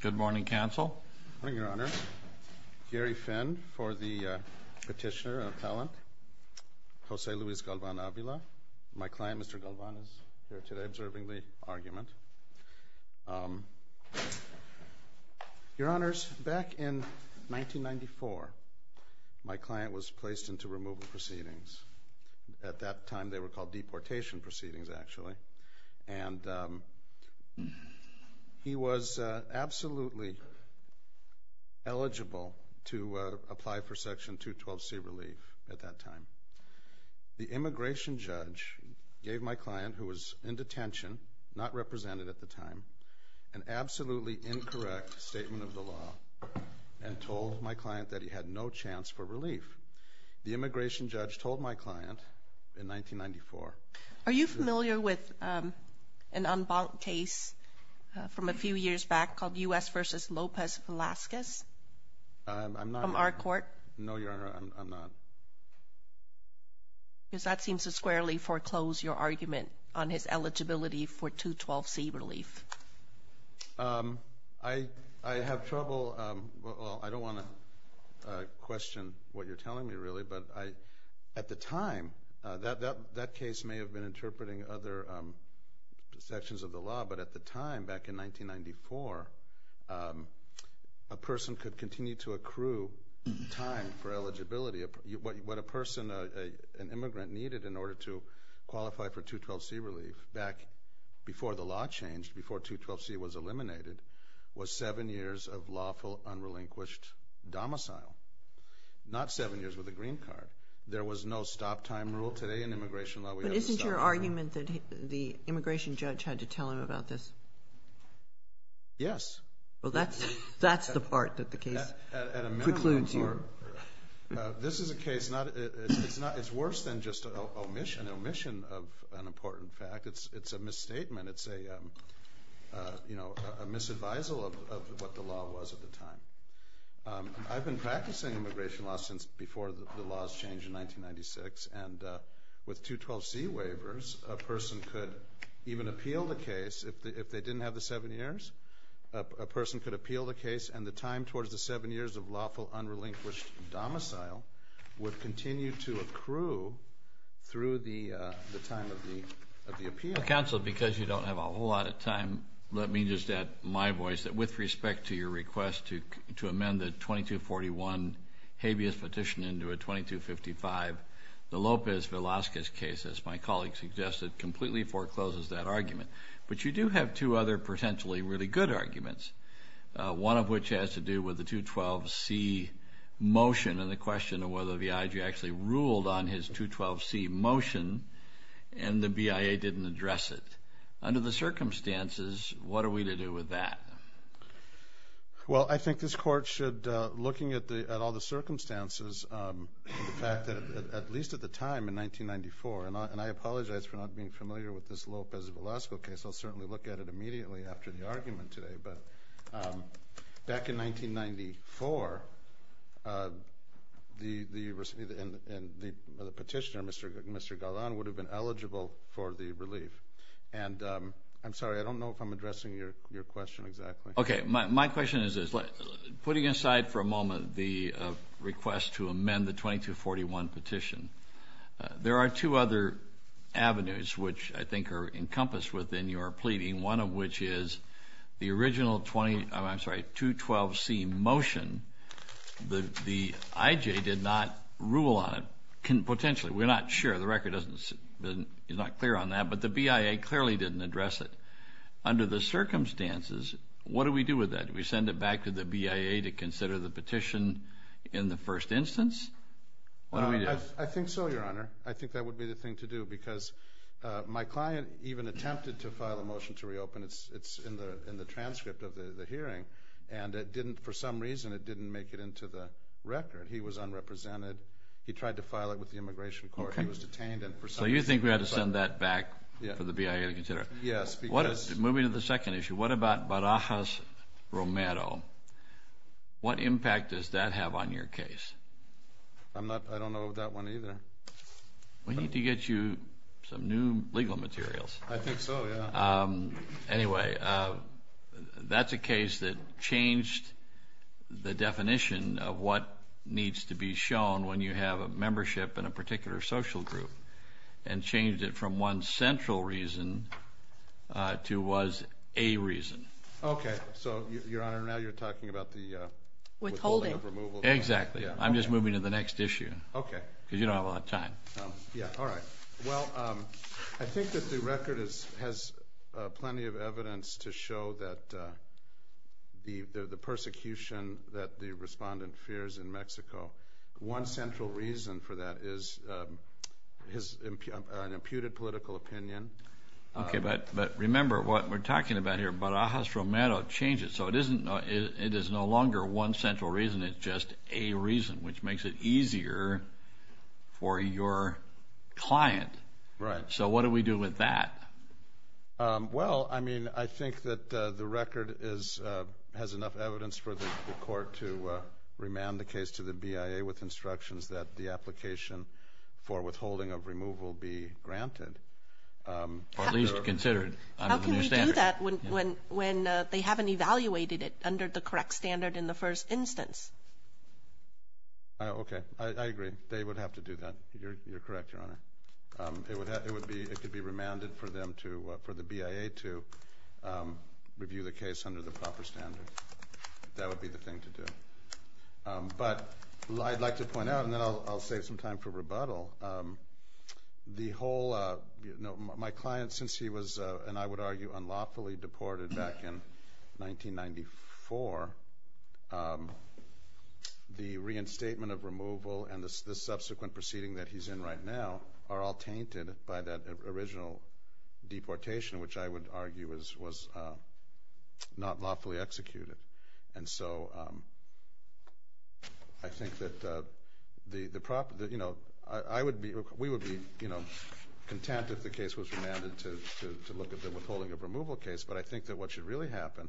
Good morning, Counsel. Good morning, Your Honor. Gary Finn for the Petitioner Appellant, Jose Luis Galvan-Avila. My client, Mr. Galvan, is here today observing the argument. Your Honors, back in 1994, my client was placed into removal proceedings. At that time they were called deportation proceedings, actually, and he was absolutely eligible to apply for Section 212C relief at that time. The immigration judge gave my client, who was in detention, not represented at the time, an absolutely incorrect statement of the law and told my client that he had no chance for relief. The immigration judge told my client in 1994, Are you familiar with an unbunked case from a few years back called U.S. v. Lopez Velazquez? I'm not. From our court? No, Your Honor, I'm not. Because that seems to squarely foreclose your argument on his eligibility for 212C relief. I have trouble, well, I don't want to question what you're telling me, really, but at the time, that case may have been interpreting other sections of the law, but at the time, back in 1994, a person could continue to accrue time for eligibility. What a person, an immigrant, needed in order to qualify for 212C relief back before the law changed, before 212C was eliminated, was seven years of lawful, unrelinquished domicile, not seven years with a green card. There was no stop time rule today in immigration law. But isn't your argument that the immigration judge had to tell him about this? Yes. Well, that's the part that the case precludes you. This is a case, it's worse than just an omission of an important fact. It's a misstatement. It's a, you know, a misadvisal of what the law was at the time. I've been practicing immigration law since before the laws changed in 1996, and with 212C waivers, a person could even appeal the case if they didn't have the seven years. A person could appeal the case, and the time towards the seven years of lawful, unrelinquished domicile would continue to accrue through the time of the appeal. Counsel, because you don't have a whole lot of time, let me just add my respect to your request to amend the 2241 habeas petition into a 2255 de Lopez Velasquez case, as my colleague suggested, completely forecloses that argument. But you do have two other potentially really good arguments, one of which has to do with the 212C motion and the question of whether the I.G. actually ruled on his 212C motion, and the BIA didn't address it. Under the Well, I think this Court should, looking at all the circumstances, the fact that at least at the time in 1994, and I apologize for not being familiar with this Lopez Velasquez case, I'll certainly look at it immediately after the argument today, but back in 1994, the petitioner, Mr. Gallan, would have been eligible for the relief. And I'm sorry, I don't know if I'm My question is this. Putting aside for a moment the request to amend the 2241 petition, there are two other avenues which I think are encompassed within your pleading, one of which is the original 20, I'm sorry, 212C motion, the I.G. did not rule on it, potentially. We're not sure. The record doesn't, it's not clear on that, but the BIA clearly didn't address it. Under the that, do we send it back to the BIA to consider the petition in the first instance? I think so, Your Honor. I think that would be the thing to do, because my client even attempted to file a motion to reopen it. It's in the transcript of the hearing, and it didn't, for some reason, it didn't make it into the record. He was unrepresented. He tried to file it with the Immigration Court. He was detained, and for some reason... So you think we had to send that back for the BIA to consider it? Yes. Moving to the second issue, what about Barajas Romero? What impact does that have on your case? I'm not, I don't know that one either. We need to get you some new legal materials. I think so, yeah. Anyway, that's a case that changed the definition of what needs to be shown when you have a membership in a to was a reason. Okay, so, Your Honor, now you're talking about the withholding of removal. Exactly. I'm just moving to the next issue. Okay. Because you don't have a lot of time. Yeah, all right. Well, I think that the record has plenty of evidence to show that the persecution that the respondent fears in Mexico, one central reason for that is an imputed political opinion. Okay, but remember what we're talking about here. Barajas Romero changes, so it is no longer one central reason. It's just a reason, which makes it easier for your client. Right. So what do we do with that? Well, I mean, I think that the record has enough evidence for the court to remand the case to the BIA with instructions that the application for withholding of removal be granted, or at least considered under the new standard. How can we do that when they haven't evaluated it under the correct standard in the first instance? Okay, I agree. They would have to do that. You're correct, Your Honor. It could be remanded for the BIA to review the case under the proper standard. That would be the thing to do. But I'd like to point out, and then I'll save some time for rebuttal, my client, since he was, and I would argue, unlawfully deported back in 1994, the reinstatement of removal and the subsequent proceeding that he's in right now are all tainted by that original deportation, which I would argue was not lawfully executed. And so I think that the proper, you know, I would be, we would be, you know, content if the case was remanded to look at the withholding of removal case, but I think that what should really happen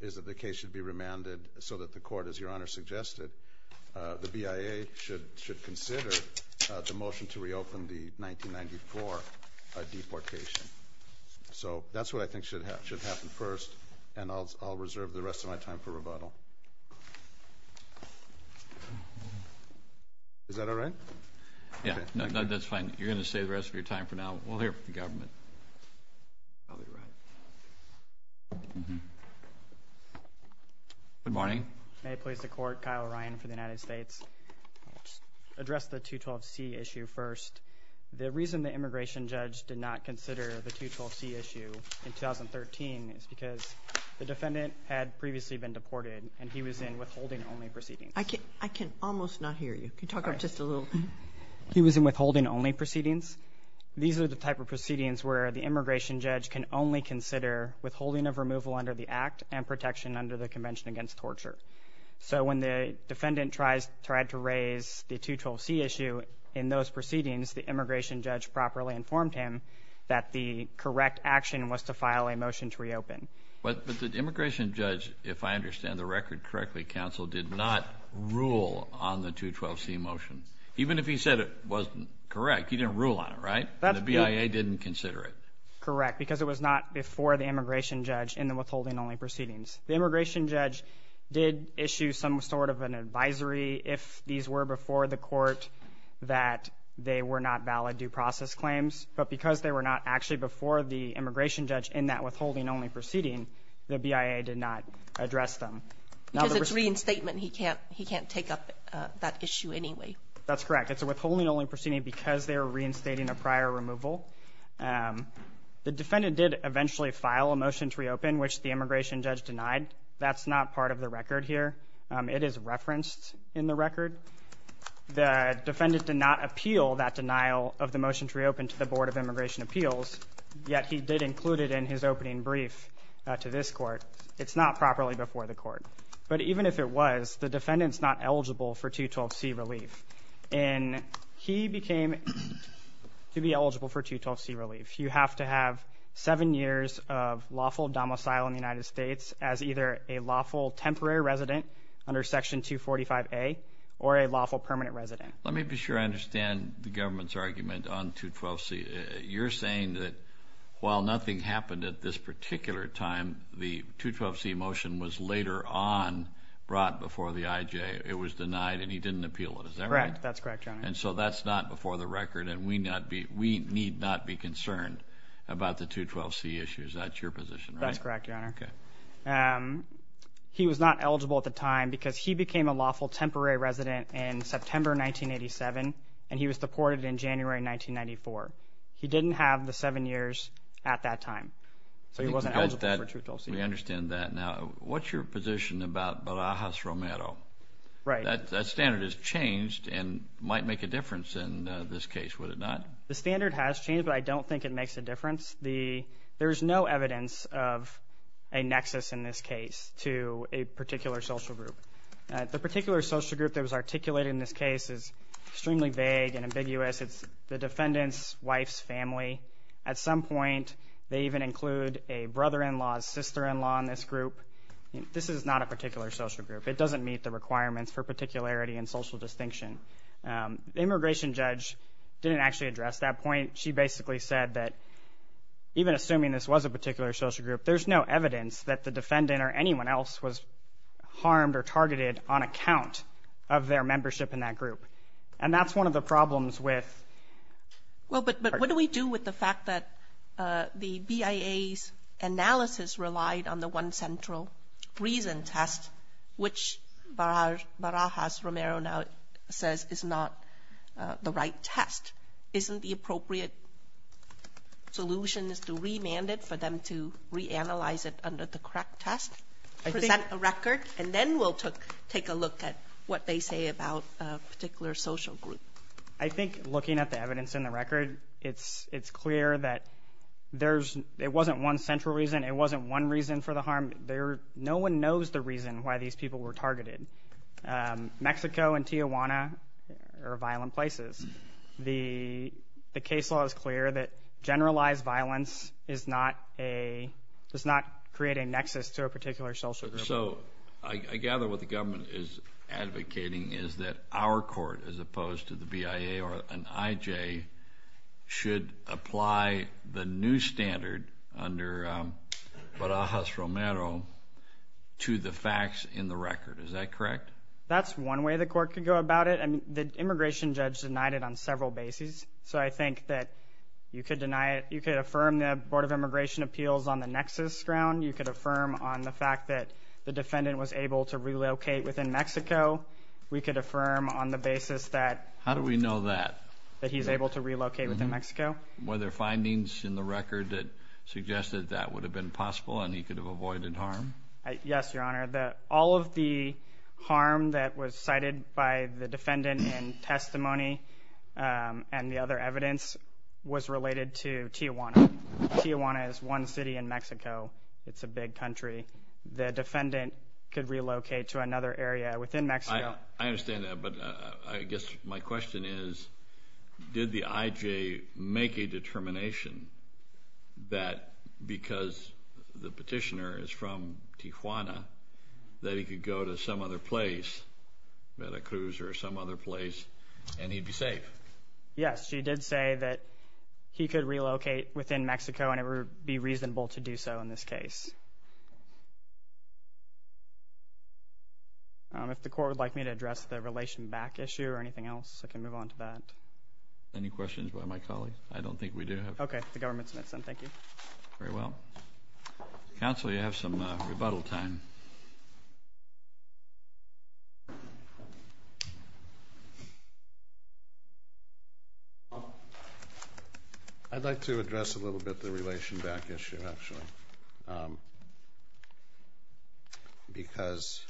is that the case should be remanded so that the court, as Your Honor suggested, the BIA should consider the motion to reopen the 1994 deportation. So that's what I think should happen first, and I'll reserve the rest of my time for rebuttal. Is that all right? Yeah, no, that's fine. You're going to save the rest of your time for now. We'll hear from the government. Good morning. May it please the Court, Kyle Ryan for the United States. I'll just address the 212C issue first. The reason the immigration judge did not consider the 212C issue in 2013 is because the defendant had previously been deported, and he was in withholding-only proceedings. I can almost not hear you. Can you talk up just a little? He was in withholding-only proceedings. These are the type of proceedings where the immigration judge can only consider withholding of removal under the Act and protection under the Convention Against Torture. So when the defendant tried to raise the 212C issue in those proceedings, the immigration judge properly informed him that the correct action was to file a motion to reopen. But the immigration judge, if I understand the record correctly, counsel, did not rule on the 212C motion. Even if he said it wasn't correct, he didn't rule on it, right? The BIA didn't consider it. Correct, because it was not before the immigration judge in the withholding-only proceedings. The immigration judge did issue some sort of an advisory if these were before the court that they were not valid due process claims. But because they were not actually before the immigration judge in that withholding-only proceeding, the BIA did not address them. Because it's reinstatement, he can't take up that issue anyway. That's correct. It's a withholding-only proceeding because they were reinstating a prior removal. The defendant did eventually file a motion to reopen, which the immigration judge denied. That's not part of the record here. It is referenced in the record. The defendant did not appeal that denial of the motion to reopen to the Board of Immigration Appeals, yet he did include it in his opening brief to this Court. It's not properly before the court. But even if it was, the defendant's not eligible for 212C relief. And he became to be eligible for 212C relief. You have to have seven years of lawful domicile in the United States as either a lawful temporary resident under Section 245A or a lawful permanent resident. Let me be sure I understand the government's argument on 212C. You're saying that while nothing happened at this particular time, the 212C motion was later on brought before the IJ. It was denied, and he didn't appeal it. Is that right? Correct. That's correct, Your Honor. And so that's not before the record, and we need not be concerned about the 212C issues. That's your position, right? That's correct, Your Honor. Okay. He was not eligible at the time because he became a lawful temporary resident in September 1987, and he was deported in January 1994. He didn't have the seven years at that time. So he wasn't eligible for 212C. We understand that. Now, what's your position about Barajas Romero? Right. That standard has changed and might make a difference in this case, would it not? The standard has changed, but I don't think it makes a difference. There is no evidence of a nexus in this case to a particular social group. The particular social group that was articulated in this case is extremely vague and ambiguous. It's the defendant's wife's family. At some point, they even include a brother-in-law's sister-in-law in this group. This is not a particular social group. It doesn't meet the requirements for particularity and social distinction. The immigration judge didn't actually address that point. She basically said that even assuming this was a particular social group, there's no evidence that the defendant or anyone else was harmed or targeted on account of their membership in that group. And that's one of the problems with our court. Well, but what do we do with the fact that the BIA's analysis relied on the one central reason test, which Barajas Romero now says is not the right test? Isn't the appropriate solution to remand it for them to reanalyze it under the correct test, present a record, and then we'll take a look at what they say about a particular social group? I think looking at the evidence in the record, it's clear that it wasn't one central reason. It wasn't one reason for the harm. No one knows the reason why these people were targeted. Mexico and Tijuana are violent places. The case law is clear that generalized violence does not create a nexus to a particular social group. So I gather what the government is advocating is that our court, as opposed to the BIA or an IJ, should apply the new standard under Barajas Romero to the facts in the record. Is that correct? That's one way the court could go about it. The immigration judge denied it on several bases, so I think that you could deny it. You could affirm the Board of Immigration Appeals on the nexus ground. You could affirm on the fact that the defendant was able to relocate within Mexico. We could affirm on the basis that he's able to relocate within Mexico. How do we know that? Were there findings in the record that suggested that would have been possible and he could have avoided harm? Yes, Your Honor. All of the harm that was cited by the defendant in testimony and the other evidence was related to Tijuana. Tijuana is one city in Mexico. It's a big country. The defendant could relocate to another area within Mexico. I understand that, but I guess my question is did the IJ make a determination that because the petitioner is from Tijuana that he could go to some other place, a cruiser or some other place, and he'd be safe? Yes, she did say that he could relocate within Mexico and it would be reasonable to do so in this case. If the court would like me to address the relation back issue or anything else, I can move on to that. Any questions by my colleagues? I don't think we do have any. Okay. The government's met, sir. Thank you. Very well. Counsel, you have some rebuttal time. I'd like to address a little bit the relation back issue, actually, because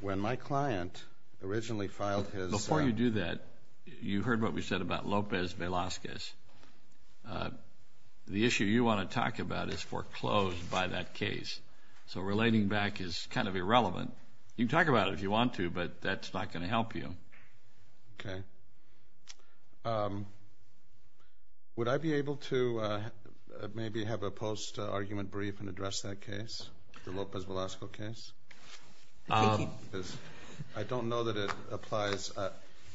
when my client originally filed his- Before you do that, you heard what we said about Lopez Velazquez. The issue you want to talk about is foreclosed by that case. So relating back is kind of irrelevant. You can talk about it if you want to, but that's not going to help you. Okay. Would I be able to maybe have a post-argument brief and address that case, the Lopez Velazquez case? I don't know that it applies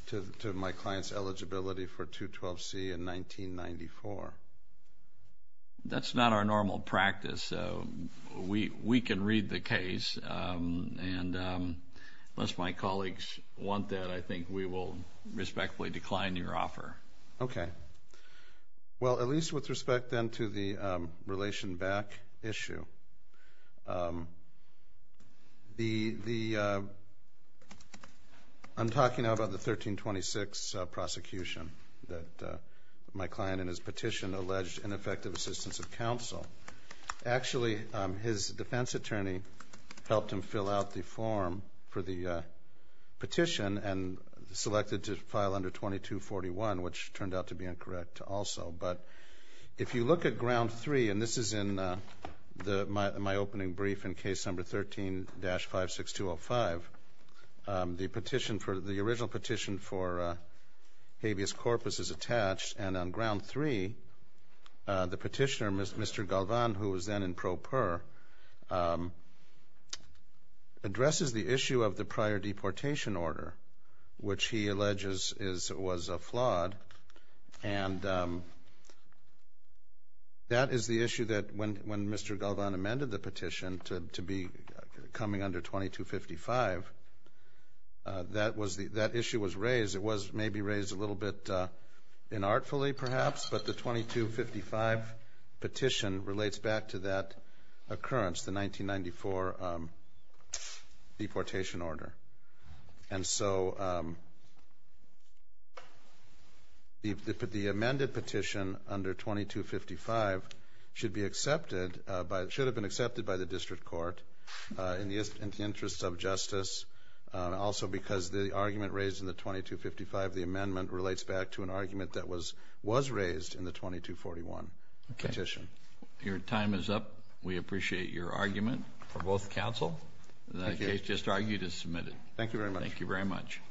to my client's eligibility for 212C in 1994. That's not our normal practice. We can read the case, and unless my colleagues want that, I think we will respectfully decline your offer. Okay. Well, at least with respect, then, to the relation back issue, the-I'm talking about the 1326 prosecution that my client in his petition alleged ineffective assistance of counsel. Actually, his defense attorney helped him fill out the form for the petition and selected to file under 2241, which turned out to be incorrect also. But if you look at ground three, and this is in my opening brief in case number 13-56205, the petition for-the original petition for habeas corpus is attached. And on ground three, the petitioner, Mr. Galvan, who was then in pro per, addresses the issue of the prior deportation order, which he alleges was flawed. And that is the issue that when Mr. Galvan amended the petition to be coming under 2255, that issue was raised. It was maybe raised a little bit inartfully, perhaps, but the 2255 petition relates back to that occurrence, the 1994 deportation order. And so the amended petition under 2255 should be accepted by-should have been accepted by the district court in the interest of justice, also because the argument raised in the 2255, the amendment relates back to an argument that was raised in the 2241 petition. Okay. Your time is up. We appreciate your argument for both counsel. The case just argued is submitted. Thank you very much. Thank you very much.